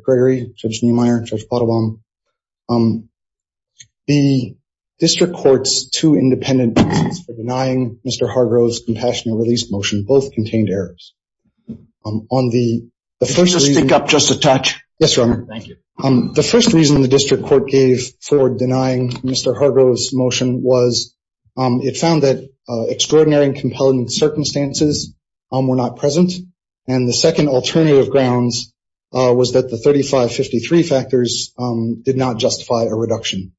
The first reason the district court gave for denying Mr. Hargrove's motion was it found that extraordinary and compelling circumstances were not present and the second alternative grounds was that the 3553 factors did not justify a reduction.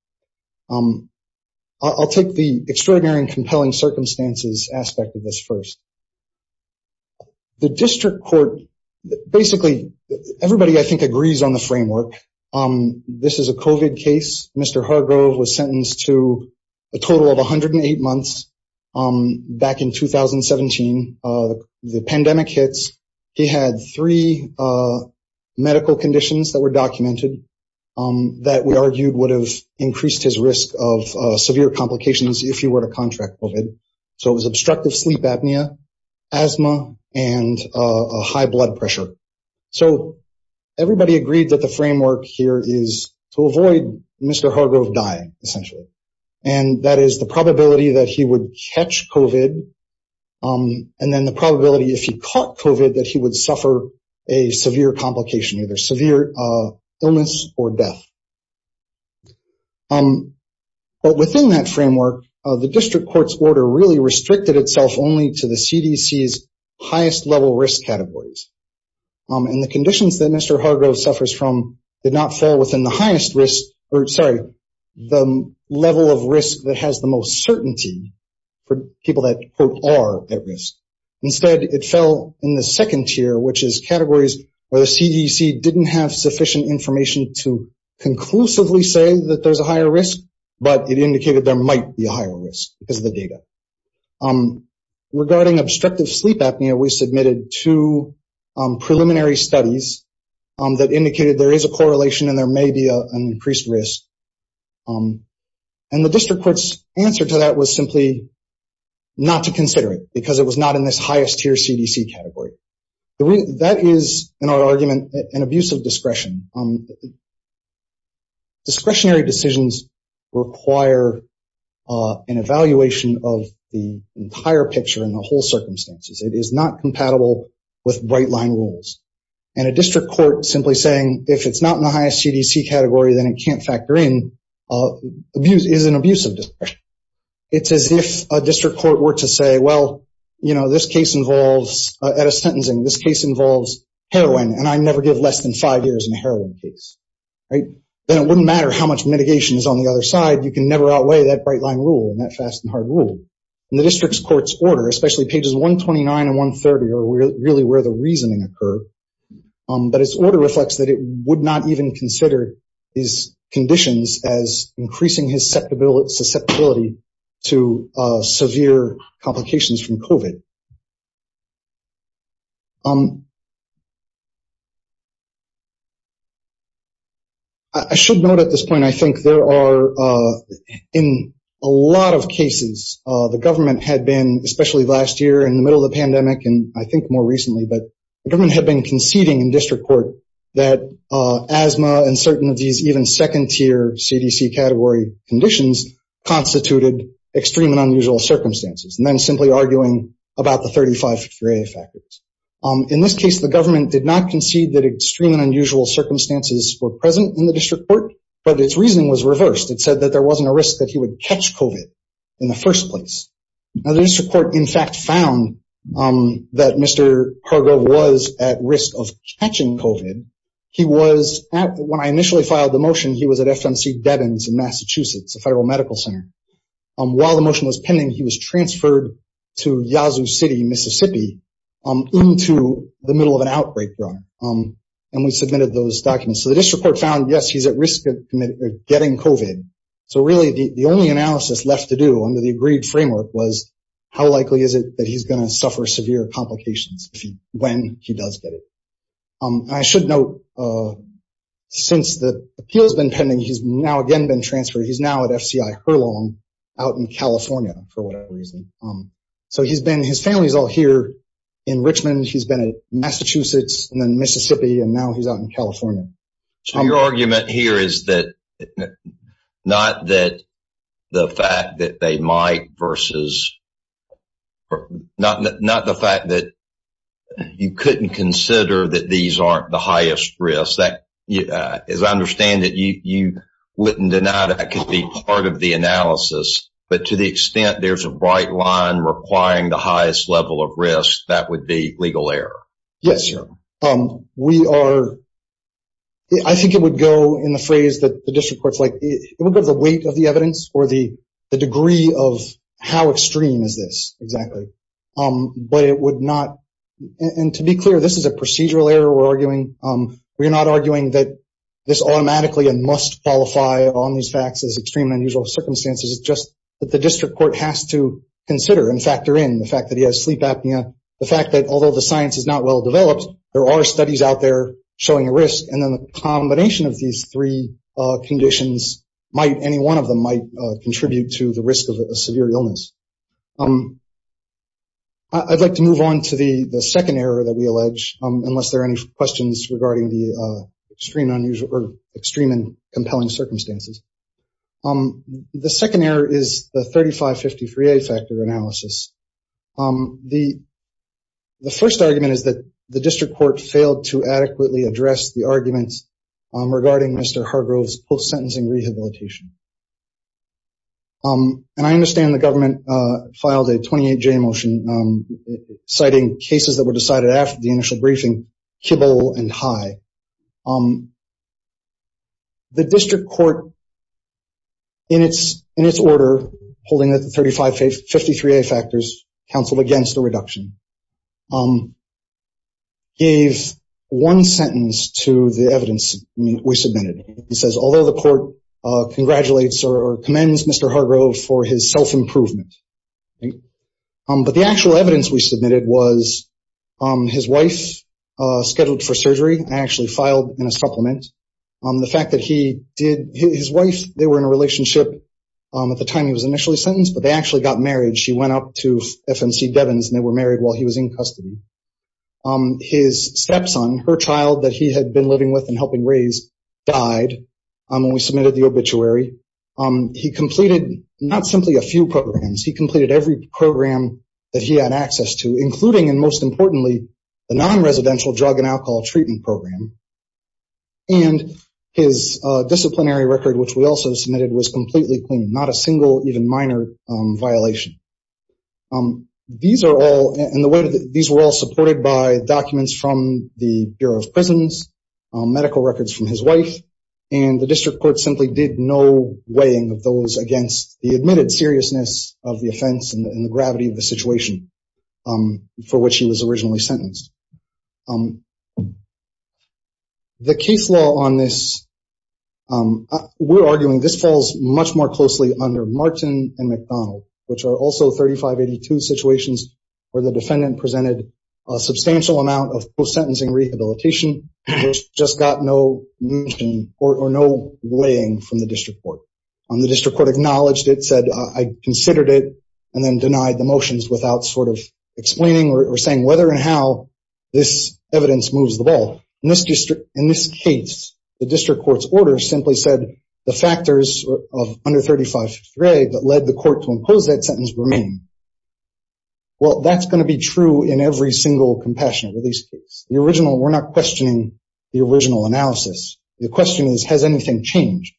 I'll take the extraordinary and compelling circumstances aspect of this first. The district court basically everybody I think agrees on the framework. This is a COVID case. Mr. Hargrove was sentenced to a total of 108 months. Back in 2017, the pandemic hits. He had three medical conditions that were documented that we argued would have increased his risk of severe complications if he were to contract COVID. So it was obstructive sleep apnea, asthma, and a high blood pressure. So everybody agreed that the framework here is to avoid Mr. Hargrove dying, essentially, and that is the probability that he would catch COVID and then the probability if he caught COVID that he would suffer a severe complication, either severe illness or death. But within that framework, the district court's order really restricted itself only to the CDC's highest level risk categories. And the conditions that Mr. Hargrove suffers from did not fall within the highest risk or sorry, the level of risk that has the most certainty for people that are at risk. Instead, it fell in the second tier, which is categories where the CDC didn't have sufficient information to conclusively say that there's a higher risk, but it indicated there might be a higher risk because of the data. Regarding obstructive sleep apnea, we submitted two preliminary studies that indicated there is a correlation and there may be an increased risk. And the district court's answer to that was simply not to consider it because it was not in this highest tier CDC category. That is, in our argument, an abuse of discretion. Discretionary decisions require an evaluation of the entire picture and the whole circumstances. It is not compatible with bright line rules. And a district court simply saying, if it's not in the highest CDC category, then it can't factor in, is an abuse of discretion. It's as if a district court were to say, well, you know, this case involves, at a sentencing, this case involves heroin and I never give less than five years in a heroin case, right? Then it wouldn't matter how much mitigation is on the other side. You can never outweigh that bright line rule and that fast and hard rule. And the district court's order, especially pages 129 and 130 are really where the reasoning occur. But its order reflects that it would not even consider these conditions as increasing his susceptibility to severe complications from COVID. I should note at this point, I think there are, in a lot of cases, the government had been, especially last year in the middle of the pandemic, and I think more recently, but the government had been conceding in district court that asthma and certain of these even second tier CDC category conditions constituted extreme and unusual circumstances. And then simply arguing about the 35 grade factors. In this case, the government did not concede that extreme and unusual circumstances were present in the district court, but its reasoning was reversed. It said that there wasn't a risk that he would catch COVID in the first place. Now the district court, in fact, found that Mr. Hargrove was at risk of catching COVID. He was at, when I initially filed the motion, he was at FMC Deben's in Massachusetts, a federal medical center. While the motion was pending, he was transferred to Yazoo City, Mississippi into the middle of an outbreak run. And we submitted those documents. So the district court found, yes, he's at risk of getting COVID. So really the only analysis left to do under the agreed framework was how likely is it that he's going to suffer severe complications when he does get it. I should note, since the appeal has been pending, he's now again been transferred. He's now at FCI Hurlong out in California for whatever reason. So he's been, his family's all here in Richmond. He's been at Massachusetts and then Mississippi, and now he's out in California. So your argument here is that, not that the fact that they might versus, not the fact that you couldn't consider that these aren't the highest risk. As I understand it, you wouldn't deny that could be part of the analysis, but to the extent there's a bright line requiring the highest level of risk, that would be legal error. Yes. We are, I think it would go in the phrase that the district court's like, it would be the weight of the evidence or the degree of how extreme is this exactly. But it would not, and to be clear, this is a procedural error we're arguing. We're not arguing that this automatically and must qualify on these facts as extreme and unusual circumstances. It's just that the district court has to consider and factor in the fact that he has sleep apnea, the fact that although the science is not well developed, there are studies out there showing a risk. And then the combination of these three conditions might, any one of them might contribute to the risk of a severe illness. I'd like to move on to the second error that unless there are any questions regarding the extreme and compelling circumstances. The second error is the 3553A factor analysis. The first argument is that the district court failed to adequately address the arguments regarding Mr. Hargrove's post-sentencing rehabilitation. And I understand the government filed a 28J motion citing cases that were decided after the initial briefing, Kibble and High. The district court, in its order, holding the 3553A factors, counseled against the reduction, gave one sentence to the evidence we submitted. It says, although the court congratulates or commends Mr. Hargrove for his self-improvement, I think, but the actual evidence we submitted was his wife scheduled for surgery, actually filed in a supplement. The fact that he did, his wife, they were in a relationship at the time he was initially sentenced, but they actually got married. She went up to FNC Devens and they were married while he was in custody. His stepson, her child that he had been living with and helping raise, died when we submitted the obituary. He completed not simply a few programs. He completed every program that he had access to, including, and most importantly, the non-residential drug and alcohol treatment program. And his disciplinary record, which we also submitted, was completely clean, not a single even minor violation. These were all supported by documents from the Bureau of Prisons, medical records from his wife, and the district court simply did no weighing of those against the admitted seriousness of the offense and the gravity of the situation for which he was originally sentenced. The case law on this, we're arguing this falls much more closely under Martin and McDonald, which are also 3582 situations where the defendant presented a substantial amount of post-sentencing rehabilitation, which just got no motion or no weighing from the district court. The district court acknowledged it, said, I considered it, and then denied the motions without sort of explaining or saying whether and how this evidence moves the ball. In this case, the district court's order simply said, the factors of under 3583 that led the court to impose that sentence remain. Well, that's going to be true in every single compassionate release case. We're not questioning the original analysis. The question is, has anything changed?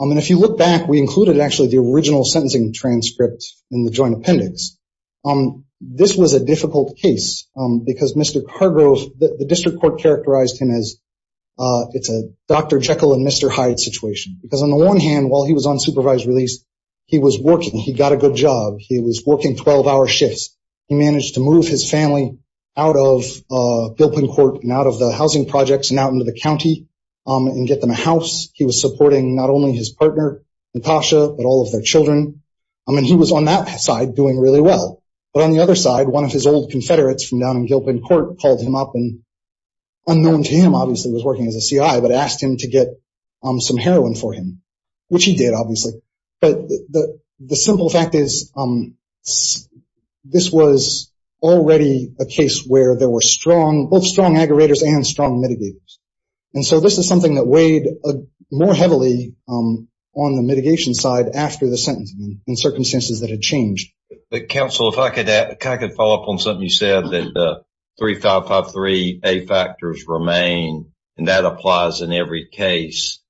And if you look back, we included actually the original sentencing transcript in the joint appendix. This was a difficult case because Mr. Cargo, the district court characterized him as, it's a Dr. Jekyll and Mr. Hyde situation. Because on the one hand, while he was on supervised release, he was working, he got a good job, he was working 12 hour shifts. He managed to move his family out of Gilpin Court and out of the housing projects and out into the county and get them a house. He was supporting not only his partner, Natasha, but all of their children. I mean, he was on that side doing really well. But on the other side, one of his old confederates from down in Gilpin Court called him up and unknown to him, obviously was working as a CI, but asked him to get some heroin for him, which he did, obviously. But the simple fact is, this was already a case where there were strong, both strong aggregators and strong mitigators. And so this is something that weighed more heavily on the mitigation side after the sentencing in circumstances that had changed. But counsel, if I could add, if I could follow up on something you said that 3553A factors remain, and that applies in every case,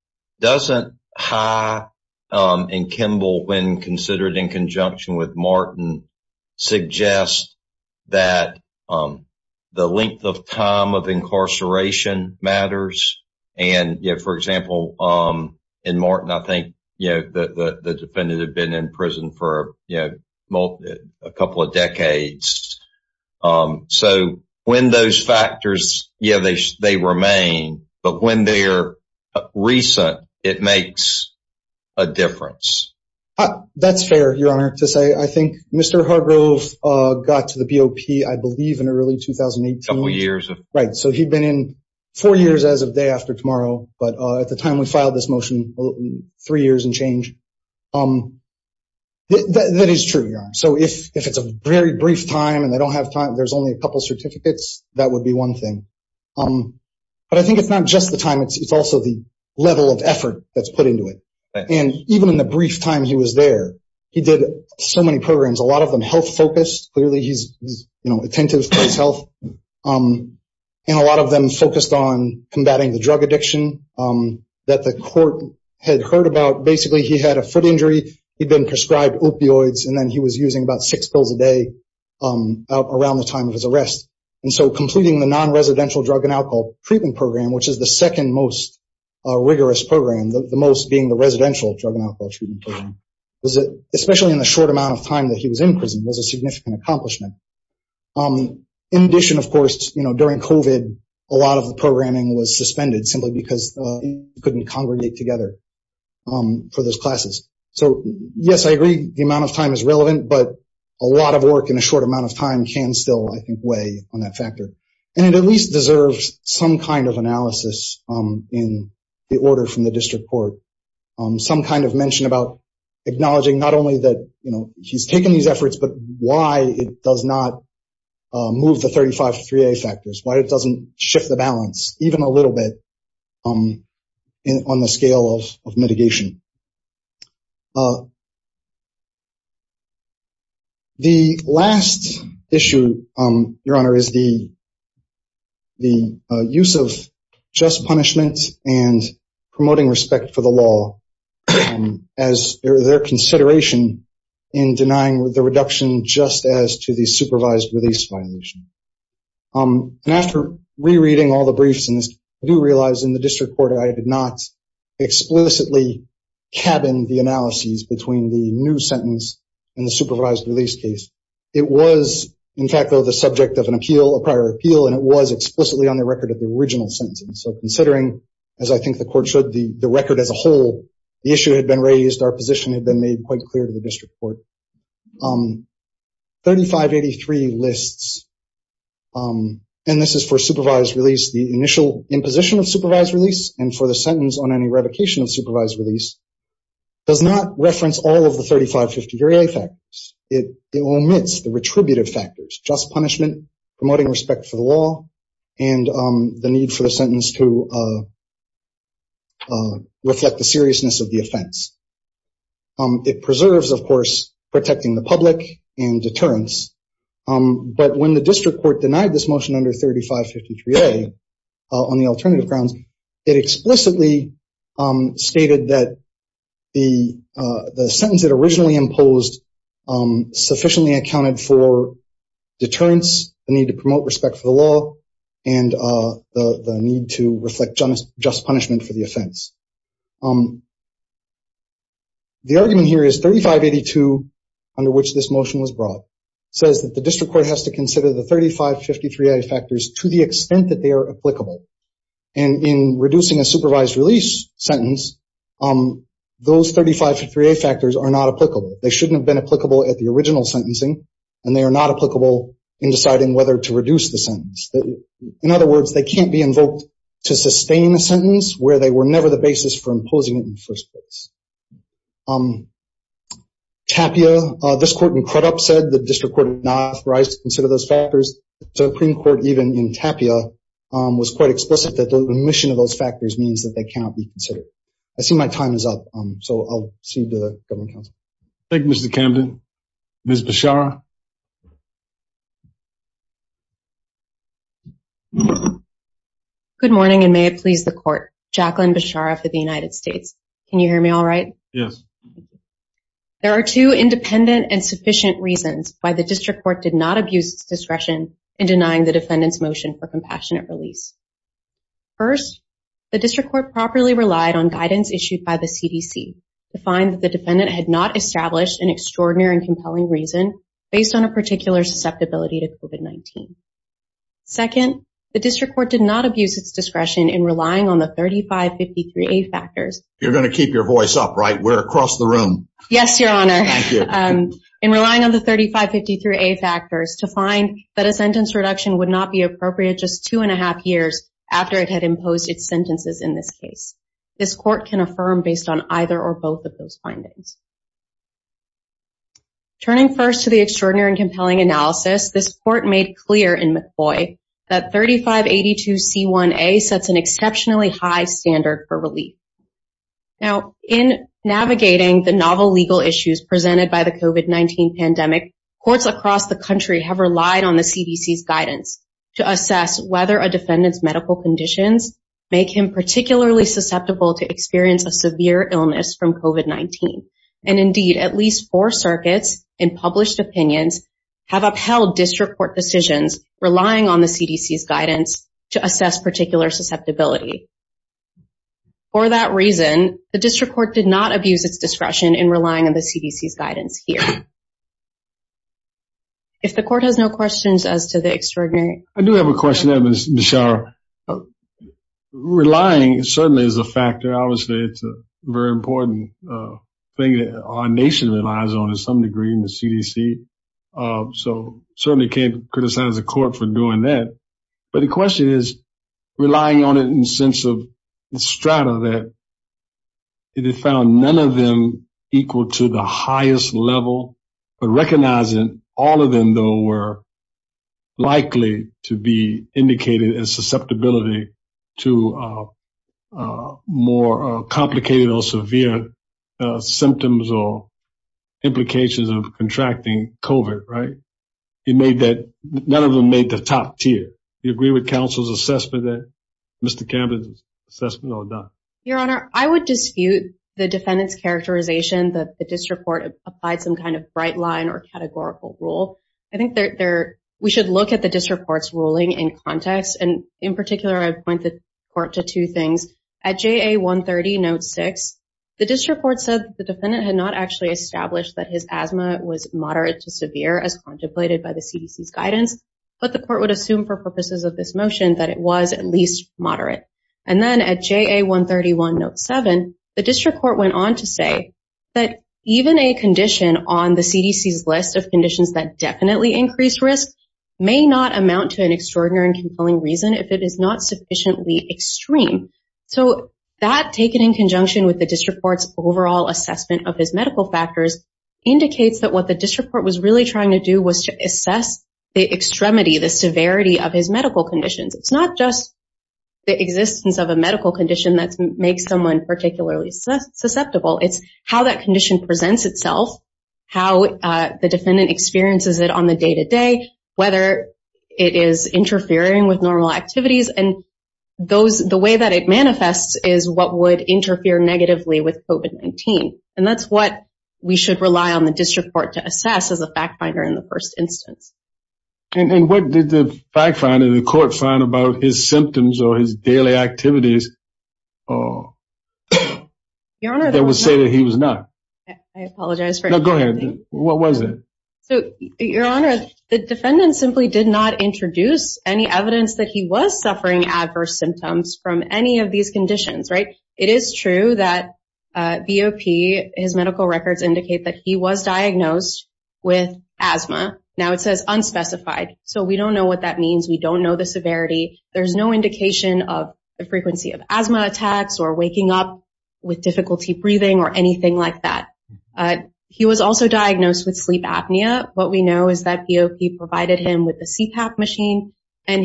doesn't High and Kimball, when considered in conjunction with Martin, suggest that the length of time of incarceration matters? And, you know, for example, in Martin, I think, you know, the defendant had been in prison for a couple of decades. So when those factors, yeah, they remain, but when they're recent, it makes a difference. That's fair, Your Honor, to say. I think Mr. Hargrove got to the BOP, I believe, in early 2018. A couple of years. Right. So he'd been in four years as of day one. That is true, Your Honor. So if it's a very brief time and they don't have time, there's only a couple certificates, that would be one thing. But I think it's not just the time, it's also the level of effort that's put into it. And even in the brief time he was there, he did so many programs, a lot of them health-focused. Clearly, he's attentive to his health. And a lot of them focused on combating the drug addiction that the court had heard about. Basically, he had a foot injury, he'd been prescribed opioids, and then he was using about six pills a day around the time of his arrest. And so completing the non-residential drug and alcohol treatment program, which is the second most rigorous program, the most being the residential drug and alcohol treatment program, especially in the short amount of time that he was in prison, was a significant accomplishment. In addition, of course, you know, during COVID, a lot of the programming was suspended simply because he couldn't congregate together for those classes. So yes, I agree, the amount of time is relevant, but a lot of work in a short amount of time can still, I think, weigh on that factor. And it at least deserves some kind of analysis in the order from the district court. Some kind of mention about acknowledging not only that, you know, he's taken these efforts, but why it does not move the 35-3A factors, why it doesn't shift the balance even a little bit on the scale of mitigation. The last issue, Your Honor, is the use of just punishment and promoting respect for the law as their consideration in denying the reduction just as to the supervised release violation. And after rereading all the briefs in this, I do realize in the district court, I did not explicitly cabin the analyses between the new sentence and the supervised release case. It was, in fact, though, the subject of an appeal, a prior appeal, and it was explicitly on the record of the original sentence. So considering, as I think the court should, the record as a whole, the issue had been raised, our position had been made quite clear to the district court. 3583 lists, and this is for supervised release, the initial imposition of supervised release and for the sentence on any revocation of supervised release, does not reference all of the 35-50-3A factors. It omits the retributive factors, just punishment, promoting respect for the law, and the need for the sentence to reflect the seriousness of the protecting the public and deterrence. But when the district court denied this motion under 35-50-3A on the alternative grounds, it explicitly stated that the sentence that originally imposed sufficiently accounted for deterrence, the need to promote respect for the law, and the need to reflect just punishment for the offense. The argument here is 3582, under which this motion was brought, says that the district court has to consider the 35-50-3A factors to the extent that they are applicable. And in reducing a supervised release sentence, those 35-50-3A factors are not applicable. They shouldn't have been applicable at the original sentencing, and they are not applicable in deciding whether to reduce the sentence. In other words, they can't be invoked to sustain the sentence, where they were never the basis for imposing it in the first place. Tapia, this court in Crudup said the district court did not authorize to consider those factors. The Supreme Court, even in Tapia, was quite explicit that the omission of those factors means that they cannot be considered. I see my time is up, so I'll proceed to the government counsel. Thank you, Mr. Camden. Ms. Bechara? Good morning, and may it please the court. Jacqueline Bechara for the United States. Can you hear me all right? Yes. There are two independent and sufficient reasons why the district court did not abuse its discretion in denying the defendant's motion for compassionate release. First, the district court properly relied on guidance issued by the CDC to find that the defendant had not established an extraordinary and compelling reason based on a particular susceptibility to COVID-19. Second, the district court did not abuse its discretion in relying on the 3553A factors. You're going to keep your voice up, right? We're across the room. Yes, Your Honor. Thank you. In relying on the 3553A factors to find that a sentence reduction would not be appropriate just two and a half years after it had imposed its sentences in this case. This court can affirm based on either or both of those findings. Turning first to the extraordinary and compelling analysis, this court made clear in McCoy that 3582C1A sets an exceptionally high standard for relief. Now, in navigating the novel legal issues presented by the COVID-19 pandemic, courts across the country have relied on the CDC's guidance to assess whether a defendant's medical conditions make him particularly susceptible to experience a severe illness from COVID-19. And indeed, at least four circuits in published opinions have upheld district court decisions relying on the CDC's guidance to assess particular susceptibility. For that reason, the district court did not abuse its discretion in relying on the CDC's guidance here. If the court has no questions as to the extraordinary... I do have a question, Ms. Schauer. Well, relying certainly is a factor. Obviously, it's a very important thing that our nation relies on to some degree in the CDC. So, certainly can't criticize the court for doing that. But the question is, relying on it in the sense of the strata that they found none of them equal to the highest level, but recognizing all of them, though, were likely to be indicated as susceptibility to more complicated or severe symptoms or implications of contracting COVID, right? None of them made the top tier. Do you agree with counsel's assessment that Mr. Campbell's assessment or not? Your Honor, I would dispute the defendant's characterization that the district court applied some kind of bright line or categorical rule. I think we should look at the district court's ruling in context. And in particular, I would point the court to two things. At JA 130, note six, the district court said the defendant had not actually established that his asthma was moderate to severe as contemplated by the CDC's guidance, but the court would assume for purposes of this motion that it was at least moderate. And then at JA 131, note seven, the district court went on to say that even a condition on the CDC's list of conditions that definitely increase risk may not amount to an extraordinary and compelling reason if it is not sufficiently extreme. So that taken in conjunction with the district court's overall assessment of his medical factors indicates that what the district court was really trying to do was to assess the extremity, the severity of his medical conditions. It's not just the existence of a medical condition that makes someone particularly susceptible. It's how that condition presents itself, how the defendant experiences it on the day-to-day, whether it is interfering with normal activities. And the way that it manifests is what would interfere negatively with COVID-19. And that's what we should rely on the district court to assess as a fact finder in the first instance. And what did the fact finder, the court, find about his symptoms or his daily activities that would say that he was not? I apologize for- No, go ahead. What was it? Your Honor, the defendant simply did not introduce any evidence that he was suffering adverse symptoms from any of these conditions, right? It is true that BOP, his medical records indicate that he was diagnosed with asthma. Now it says unspecified. So we don't know what that means. We don't know the severity. There's no indication of the frequency of asthma attacks or waking up with difficulty breathing or anything like that. He was also diagnosed with sleep apnea. What we know is that BOP provided him with a CPAP machine and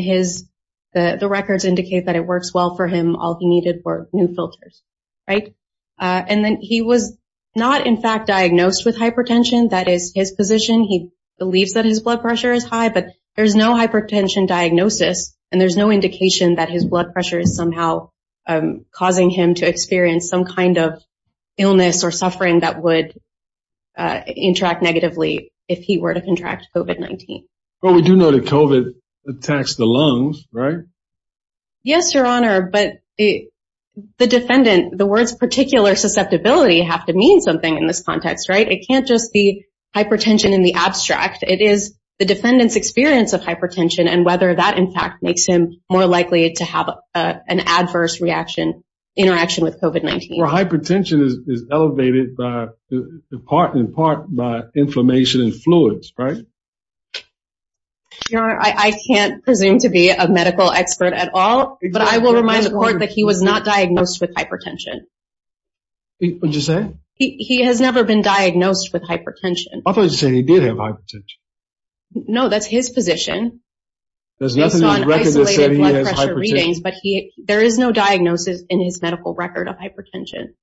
the records indicate that it works well for him. All he needed were new filters, right? And then he was not in fact diagnosed with hypertension. That is his position. He believes that his blood pressure is high, but there's no hypertension diagnosis and there's no indication that his blood pressure is somehow causing him to experience some kind of illness or suffering that would interact negatively if he were to contract COVID-19. But we do know that COVID attacks the lungs, right? Yes, Your Honor, but the defendant, the words particular susceptibility have to mean something in this context, right? It can't just be hypertension in the abstract. It is the defendant's experience of hypertension and whether that in fact makes him more likely to have an adverse reaction, interaction with COVID-19. Well, hypertension is elevated in part by inflammation in fluids, right? Your Honor, I can't presume to be a medical expert at all, but I will remind the court that he was not diagnosed with hypertension. What did you say? He has never been diagnosed with hypertension. I thought you said he did have hypertension. No, that's his position. There is no diagnosis in his medical record of hypertension.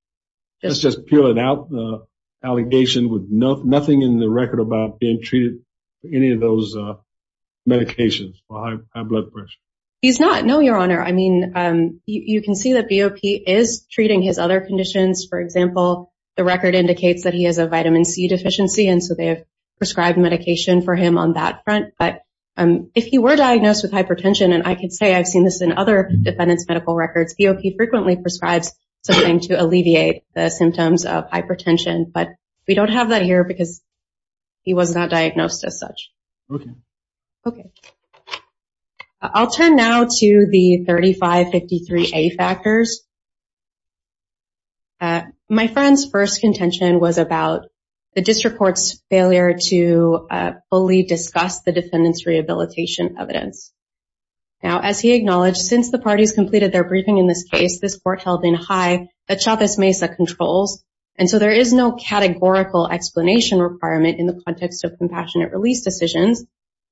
That's just peeling out the allegation with nothing in the record about being treated for any of those medications for high blood pressure. He's not. No, Your Honor. I mean, you can see that BOP is treating his other conditions. For example, the record indicates that he has a vitamin C deficiency, and so they have prescribed medication for him on that front. But if he were diagnosed with hypertension, and I can say I've seen this in other defendants' medical records, BOP frequently prescribes something to alleviate the symptoms of hypertension, but we don't have that here because he was not diagnosed as such. Okay. I'll turn now to the 3553A factors. My friend's first contention was about the district court's failure to fully discuss the defendants' rehabilitation evidence. Now, as he acknowledged, since the parties completed their briefing in this case, this court held in high the Chavez-Mesa controls, and so there is no categorical explanation requirement in the context of compassionate release decisions.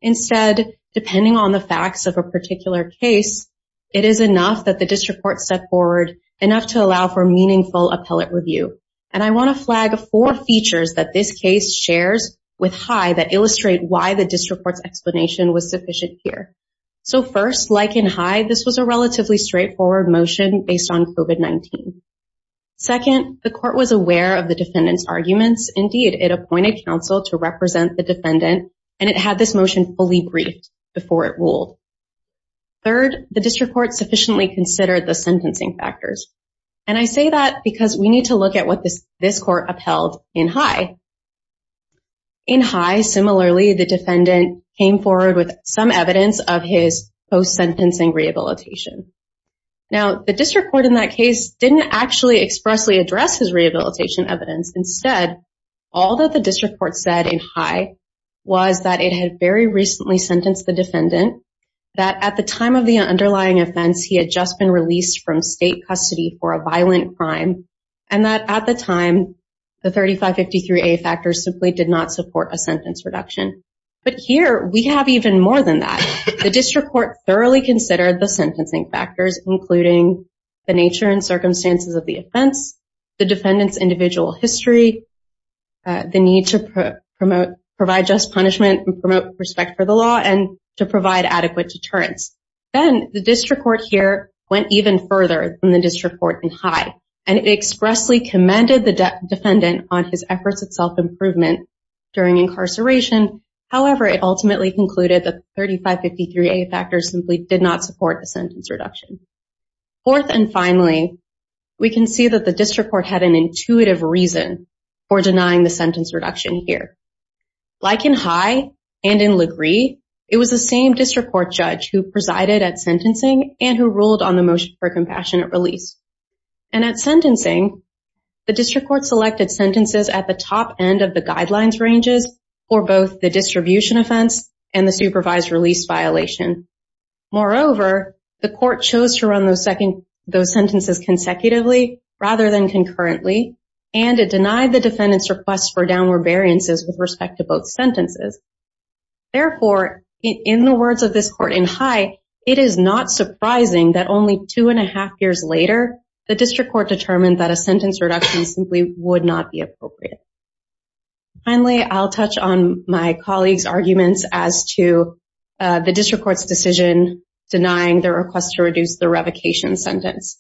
Instead, depending on the facts of a particular case, it is enough that the district court set forward enough to allow for meaningful appellate review, and I want to flag four features that this case shares with high that illustrate why the district court's explanation was sufficient here. So first, like in high, this was a relatively straightforward motion based on COVID-19. Second, the court was aware of the defendants' arguments. Indeed, it appointed counsel to represent the defendant, and it had this motion fully briefed before it ruled. Third, the district court sufficiently considered the sentencing factors, and I say that because we need to look at what this court upheld in high. In high, similarly, the defendant came forward with some evidence of his post-sentencing rehabilitation. Now, the district court in that case didn't actually expressly address his rehabilitation evidence. Instead, all that the district court said in high was that it had very recently sentenced the defendant, that at the time of the underlying offense, he had just been released from state custody for a violent crime, and that at the time, the 3553A factors simply did not support a sentence reduction. But here, we have even more than that. The district court thoroughly considered the sentencing factors, including the nature and circumstances of the offense, the defendant's individual history, the need to provide just punishment and promote respect for the law, and to provide adequate deterrence. Then, the district court here went even further than the district court in high, and it expressly commended the defendant on his efforts at self-improvement during incarceration. However, it ultimately concluded that the 3553A factors simply did not support a sentence reduction. Fourth and finally, we can see that the district court had an intuitive reason for denying the sentence reduction here. Like in high and in LaGree, it was the same district court judge who presided at sentencing and who ruled on the motion for compassionate release. And at sentencing, the district court selected sentences at the top end of the guidelines ranges for both the distribution offense and the supervised release violation. Moreover, the court chose to and to deny the defendant's request for downward variances with respect to both sentences. Therefore, in the words of this court in high, it is not surprising that only two and a half years later, the district court determined that a sentence reduction simply would not be appropriate. Finally, I'll touch on my colleagues' arguments as to the district court's decision denying their request to reduce the revocation sentence.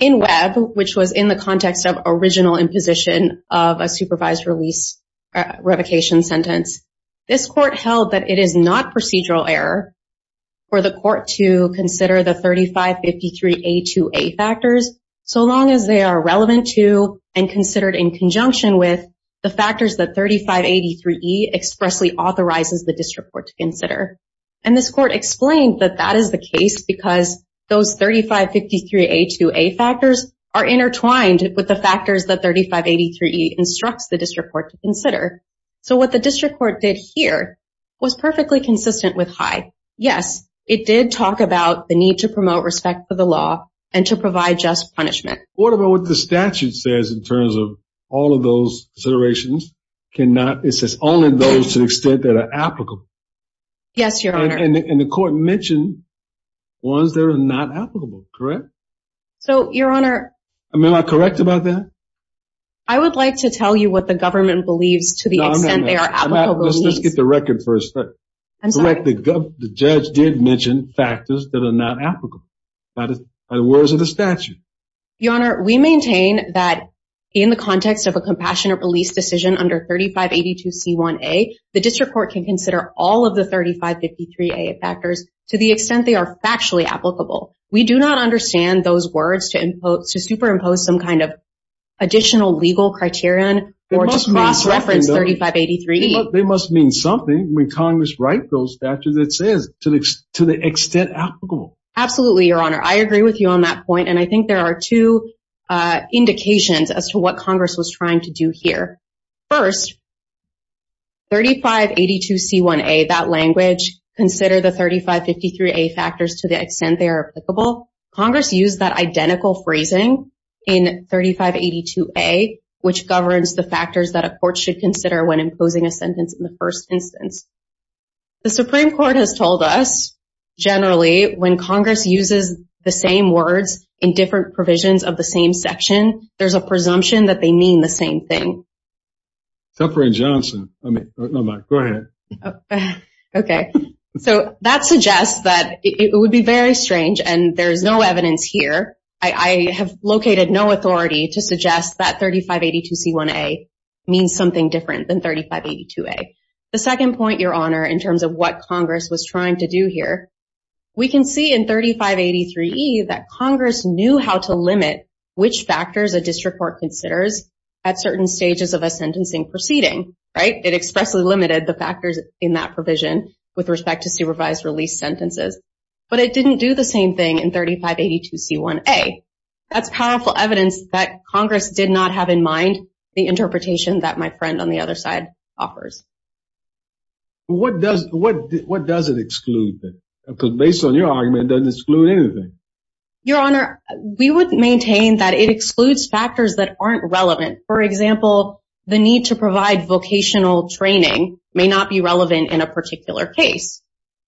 In Webb, which was in the context of original imposition of a supervised release revocation sentence, this court held that it is not procedural error for the court to consider the 3553A2A factors so long as they are relevant to and considered in conjunction with the factors that 3583E expressly authorizes the district court to consider. And this court explained that that is the case because those 3553A2A factors are intertwined with the factors that 3583E instructs the district court to consider. So what the district court did here was perfectly consistent with high. Yes, it did talk about the need to promote respect for the law and to provide just punishment. What about what the statute says in terms of all of those considerations? It says only those to the extent that are applicable. Yes, Your Honor. And the court mentioned ones that are not applicable, correct? So, Your Honor. Am I correct about that? I would like to tell you what the government believes to the extent they are applicable. Let's get the record first. I'm sorry. The judge did mention factors that are not applicable by the words of the statute. Your Honor, we maintain that in the context of a compassionate release decision under 3582C1A, the district court can consider all of the 3553A factors to the extent they are factually applicable. We do not understand those words to superimpose some kind of additional legal criterion or just cross-reference 3583E. They must mean something when Congress write those statutes that says to the extent applicable. Absolutely, Your Honor. I agree with you on that point, and I think there are two indications as to what Congress was trying to do here. First, 3582C1A, that language, consider the 3553A factors to the extent they are applicable. Congress used that identical phrasing in 3582A, which governs the factors that a court should The Supreme Court has told us, generally, when Congress uses the same words in different provisions of the same section, there's a presumption that they mean the same thing. That suggests that it would be very strange, and there's no evidence here. I have located no authority to suggest that 3582C1A means something different than 3582A. The second point, Your Honor, in terms of what Congress was trying to do here, we can see in 3583E that Congress knew how to limit which factors a district court considers at certain stages of a sentencing proceeding, right? It expressly limited the factors in that provision with respect to supervised release sentences, but it didn't do the same thing in 3582C1A. That's powerful evidence that Congress did not have in mind the interpretation that my friend on the other side offers. What does it exclude then? Because based on your argument, it doesn't exclude anything. Your Honor, we would maintain that it excludes factors that aren't relevant. For example, the need to provide vocational training may not be relevant in a particular case,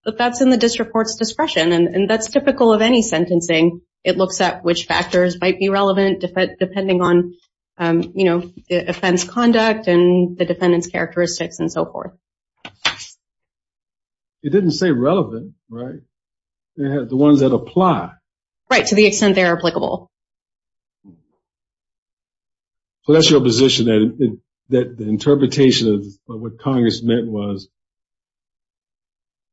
but that's in the district court's discretion, and that's typical of any sentencing. It looks at which factors might be relevant depending on, you know, offense conduct and the defendant's characteristics and so forth. It didn't say relevant, right? The ones that apply. Right, to the extent they're applicable. So that's your position, that the interpretation of what Congress meant was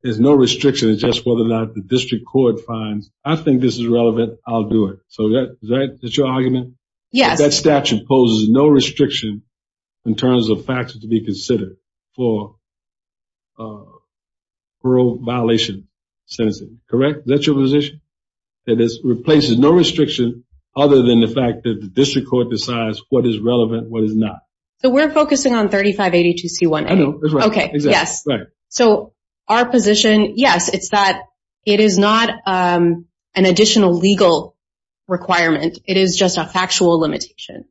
there's no restriction. It's just whether or not the district court finds, I think this is relevant, I'll do it. So that's your argument? Yes. That statute poses no restriction in terms of factors to be considered for parole violation sentencing, correct? That's your position? It replaces no restriction other than the fact that the district court decides what is relevant, what is not. So we're focusing on 3582C1A. Okay, yes. So our position, yes, it's that it is not an additional legal requirement. It is just a factual limitation.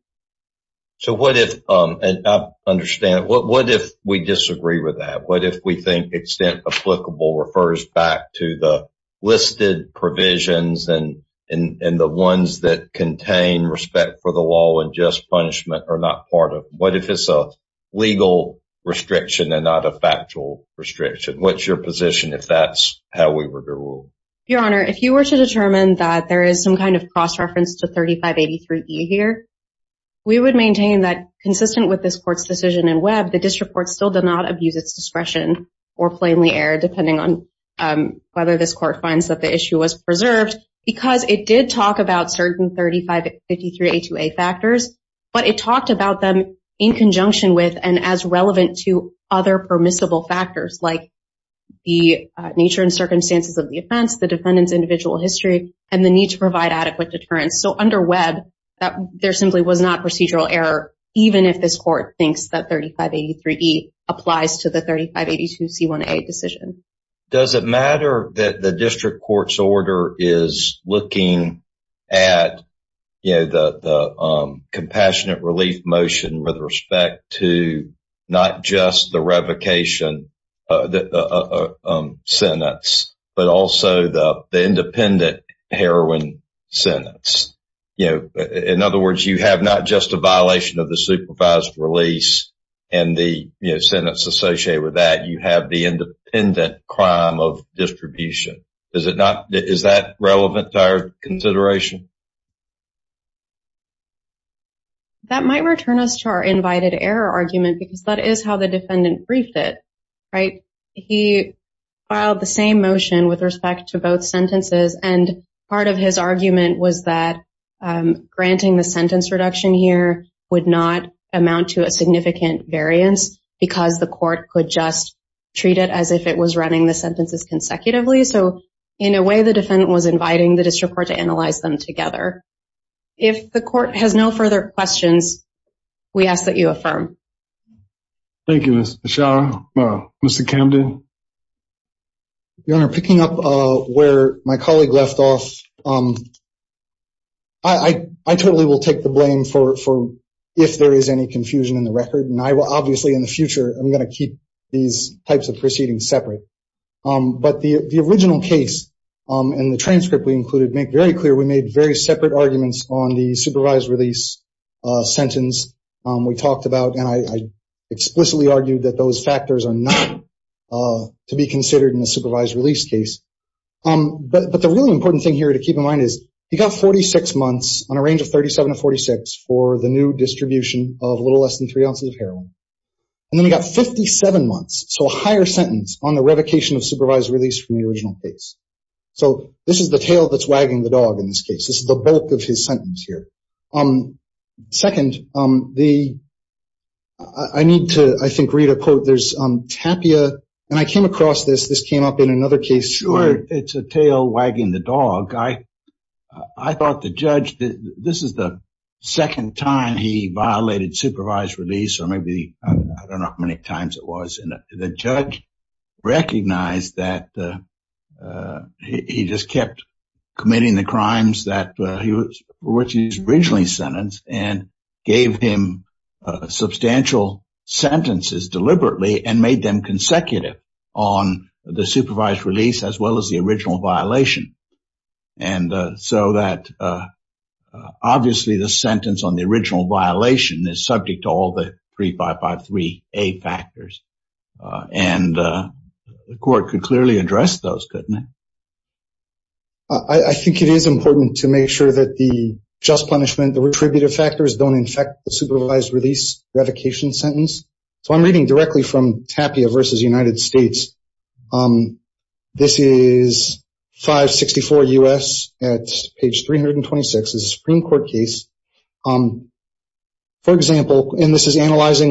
So what if, and I understand, what if we disagree with that? What if we think extent applicable refers back to the listed provisions and the ones that contain respect for the law and just are not part of, what if it's a legal restriction and not a factual restriction? What's your position if that's how we were to rule? Your Honor, if you were to determine that there is some kind of cross-reference to 3583E here, we would maintain that consistent with this court's decision in Webb, the district court still does not abuse its discretion or plainly err depending on whether this court finds that the issue was preserved because it did talk about certain 3583A2A factors, but it talked about them in conjunction with and as relevant to other permissible factors like the nature and circumstances of the offense, the defendant's individual history, and the need to provide adequate deterrence. So under Webb, that there simply was not procedural error even if this court thinks that 3583E applies to the 3582C1A decision. Does it matter that the district court's order is looking at the compassionate relief motion with respect to not just the revocation sentence, but also the independent heroin sentence? In other words, you have not just a violation of the supervised release and the sentence associated with that, you have the independent crime of distribution. Is that relevant to our consideration? That might return us to our invited error argument because that is how the defendant briefed it, right? He filed the same motion with respect to both sentences and part of his argument was that granting the sentence reduction here would not amount to a significant variance because the court could just treat it as if it was running the sentences consecutively. So in a way, the defendant was inviting the district court to analyze them together. If the court has no further questions, we ask that you affirm. Thank you, Ms. Bashar. Mr. Camden? Your Honor, picking up where my colleague left off, I totally will take the blame for if there is any confusion in the record and I will obviously in the future, I'm going to keep these types of proceedings separate. But the original case and the transcript we included make very clear we made very separate arguments on the supervised release sentence we talked about and I explicitly argued that those factors are not to be considered in a supervised release case. But the really important thing here to keep in mind is he got 46 months on a range of 37 to 46 for the new distribution of a little less than three ounces of heroin. And then he got 57 months, so a higher sentence on the revocation of supervised release from the original case. So this is the tail that's wagging the dog in this case. This is the bulk of his sentence here. Second, I need to, I think, read a quote. There's Tapia, and I came across this. This came up in another case. Sure, it's a tail wagging the dog. I thought the judge, this is the second time he violated supervised release or maybe I don't know how many times it was. And the judge recognized that he just kept committing the crimes that he was originally sentenced and gave him substantial sentences deliberately and made them consecutive on the supervised release as well as the original violation. And so that obviously the sentence on the original violation is subject to all the 3553A factors. And the court could clearly address those, couldn't it? I think it is important to make sure that the just punishment, the retributive factors don't infect the supervised release revocation sentence. So I'm reading directly from Tapia versus United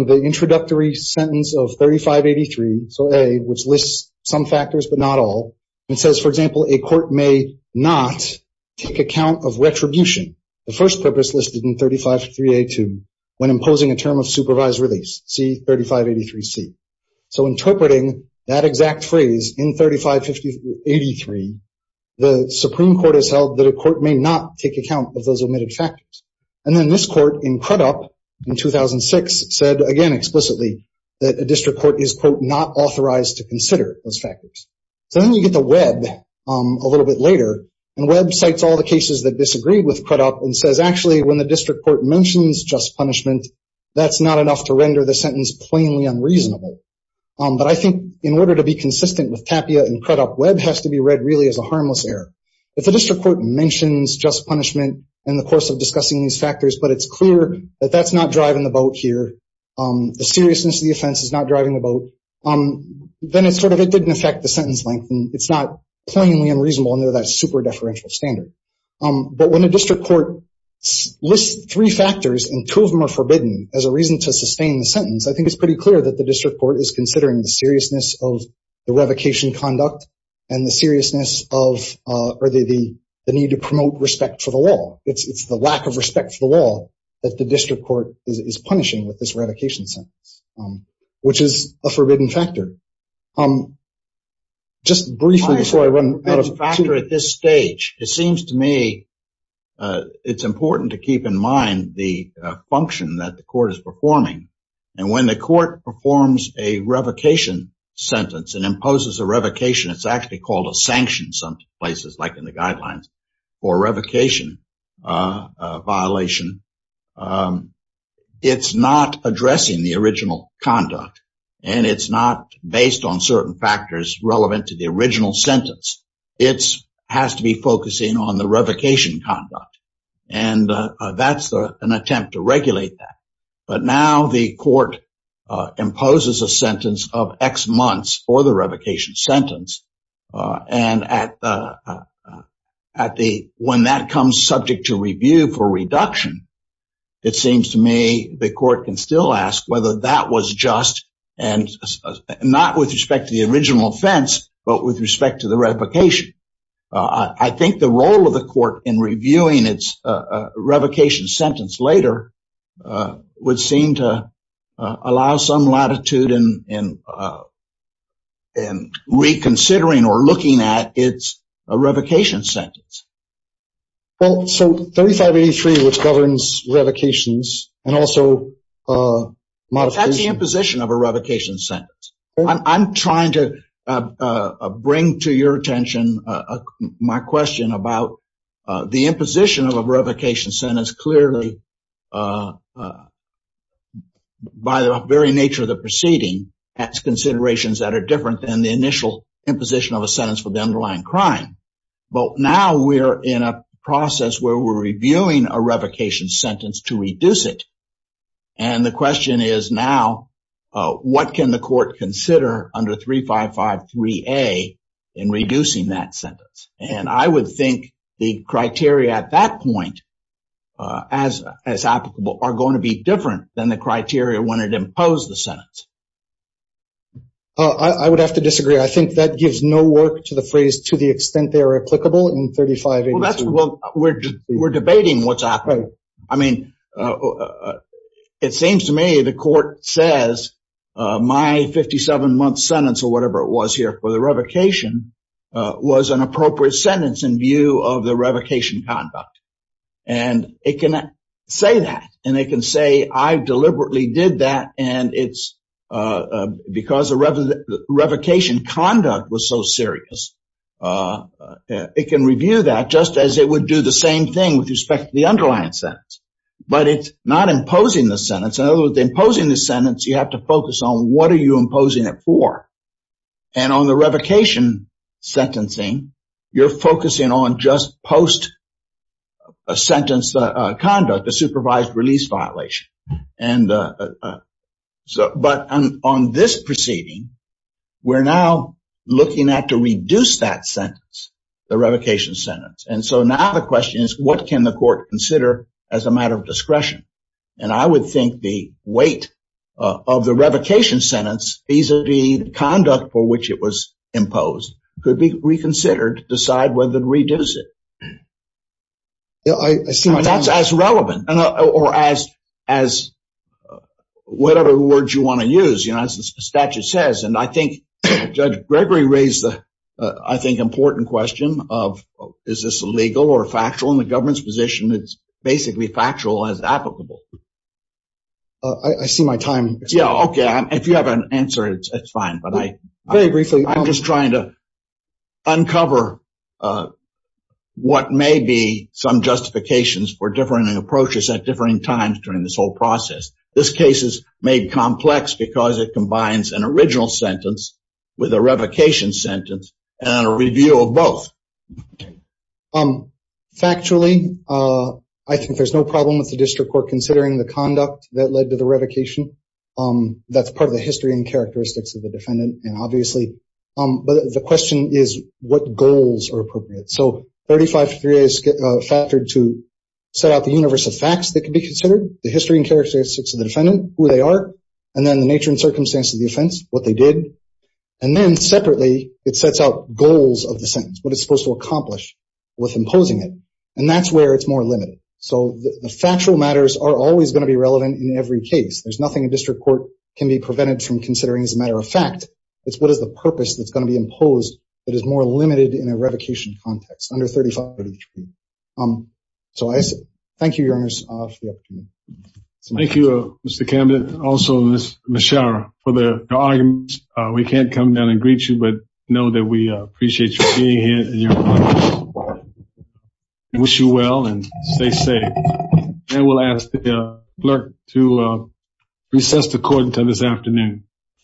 the introductory sentence of 3583, so A, which lists some factors but not all. It says, for example, a court may not take account of retribution, the first purpose listed in 3583A2, when imposing a term of supervised release, see 3583C. So interpreting that exact phrase in 3583, the Supreme Court has held that a court may not take account of those omitted factors. And then this court in Crudup in 2006 said again explicitly that a district court is, quote, not authorized to consider those factors. So then you get to Webb a little bit later, and Webb cites all the cases that disagreed with Crudup and says, actually, when the district court mentions just punishment, that's not enough to render the sentence plainly unreasonable. But I think in order to be consistent with Tapia and Crudup, Webb has to be read really as a but it's clear that that's not driving the boat here. The seriousness of the offense is not driving the boat. Then it's sort of, it didn't affect the sentence length, and it's not plainly unreasonable under that super deferential standard. But when a district court lists three factors and two of them are forbidden as a reason to sustain the sentence, I think it's pretty clear that the district court is considering the seriousness of the revocation conduct and the seriousness of, or the need to promote respect for the law. It's the lack of respect for the law that the district court is punishing with this revocation sentence, which is a forbidden factor. Just briefly before I run out of time. A factor at this stage, it seems to me, it's important to keep in mind the function that the court is performing. And when the court performs a revocation sentence and imposes a revocation, it's actually called a sanction in some places, like in the guidelines for revocation violation. It's not addressing the original conduct, and it's not based on certain factors relevant to the original sentence. It has to be focusing on the revocation conduct. And that's an attempt to regulate that. But now the court imposes a sentence of X months for the revocation sentence. And when that comes subject to review for reduction, it seems to me the court can still ask whether that was just and not with respect to the original offense, but with respect to the revocation sentence. And the court reviewing its revocation sentence later would seem to allow some latitude in reconsidering or looking at its revocation sentence. Well, so 3583, which governs revocations, and also modification. That's the imposition of a revocation sentence. I'm trying to bring to your attention my question about the imposition of a revocation sentence clearly by the very nature of the proceeding, has considerations that are different than the initial imposition of a sentence for the underlying crime. But now we're in a process where we're reviewing a revocation sentence to reduce it. And the question is now, what can the court consider under 3553A in reducing that sentence? And I would think the criteria at that point as applicable are going to be different than the criteria when it imposed the sentence. I would have to disagree. I think that gives no work to the phrase, to the extent they are applicable in 3583. Well, we're debating what's happening. I mean, it seems to me the court says my 57-month sentence or whatever it was here for the revocation was an appropriate sentence in view of the revocation conduct. And it can say that. And they can say, I deliberately did that. And it's because the revocation conduct was so serious. It can review that just as it would do the same thing with respect to the underlying sentence. But it's not imposing the sentence. In other words, imposing the sentence, you have to focus on what are you imposing it for? And on the revocation sentencing, you're focusing on just post-sentence conduct, the supervised release violation. And so but on this proceeding, we're now looking at to reduce that sentence, the revocation sentence. And so now the question is, what can the court consider as a matter of discretion? And I would think the weight of the revocation sentence, vis-a-vis the conduct for which it was imposed, could be reconsidered to decide whether to reduce it. That's as relevant or as whatever word you want to use, you know, as the statute says. And I think Judge Gregory raised the, I think, important question of, is this legal or factual in the government's position? It's basically factual as applicable. I see my time. Yeah, okay. If you have an answer, it's fine. But I'm just trying to uncover what may be some justifications for differing approaches at differing times during this whole process. This case is made complex because it combines an original sentence with a revocation sentence and a review of both. Factually, I think there's no problem with the district court considering the conduct that led to the revocation. That's part of the history and characteristics of the defendant, and obviously. But the question is, what goals are appropriate? So 35-3a is factored to set out the universe of facts that can be considered, the history and characteristics of the defendant, who they are, and then the nature and circumstance of the offense, what they did. And then separately, it sets out goals of the sentence, what it's supposed to accomplish with imposing it. And that's where it's more limited. So the factual matters are always going to be relevant in every case. There's nothing a district court can be prevented from considering as a matter of fact. It's what is the purpose that's going to be imposed that is more limited in a revocation context under 35-3a. So I say thank you, Your Honor, for the opportunity. Thank you, Mr. Camden, also Ms. Schauer, for the arguments. We can't come down and greet you, but know that we appreciate you being here and wish you well and stay safe. And we'll ask the clerk to recess the court until this afternoon.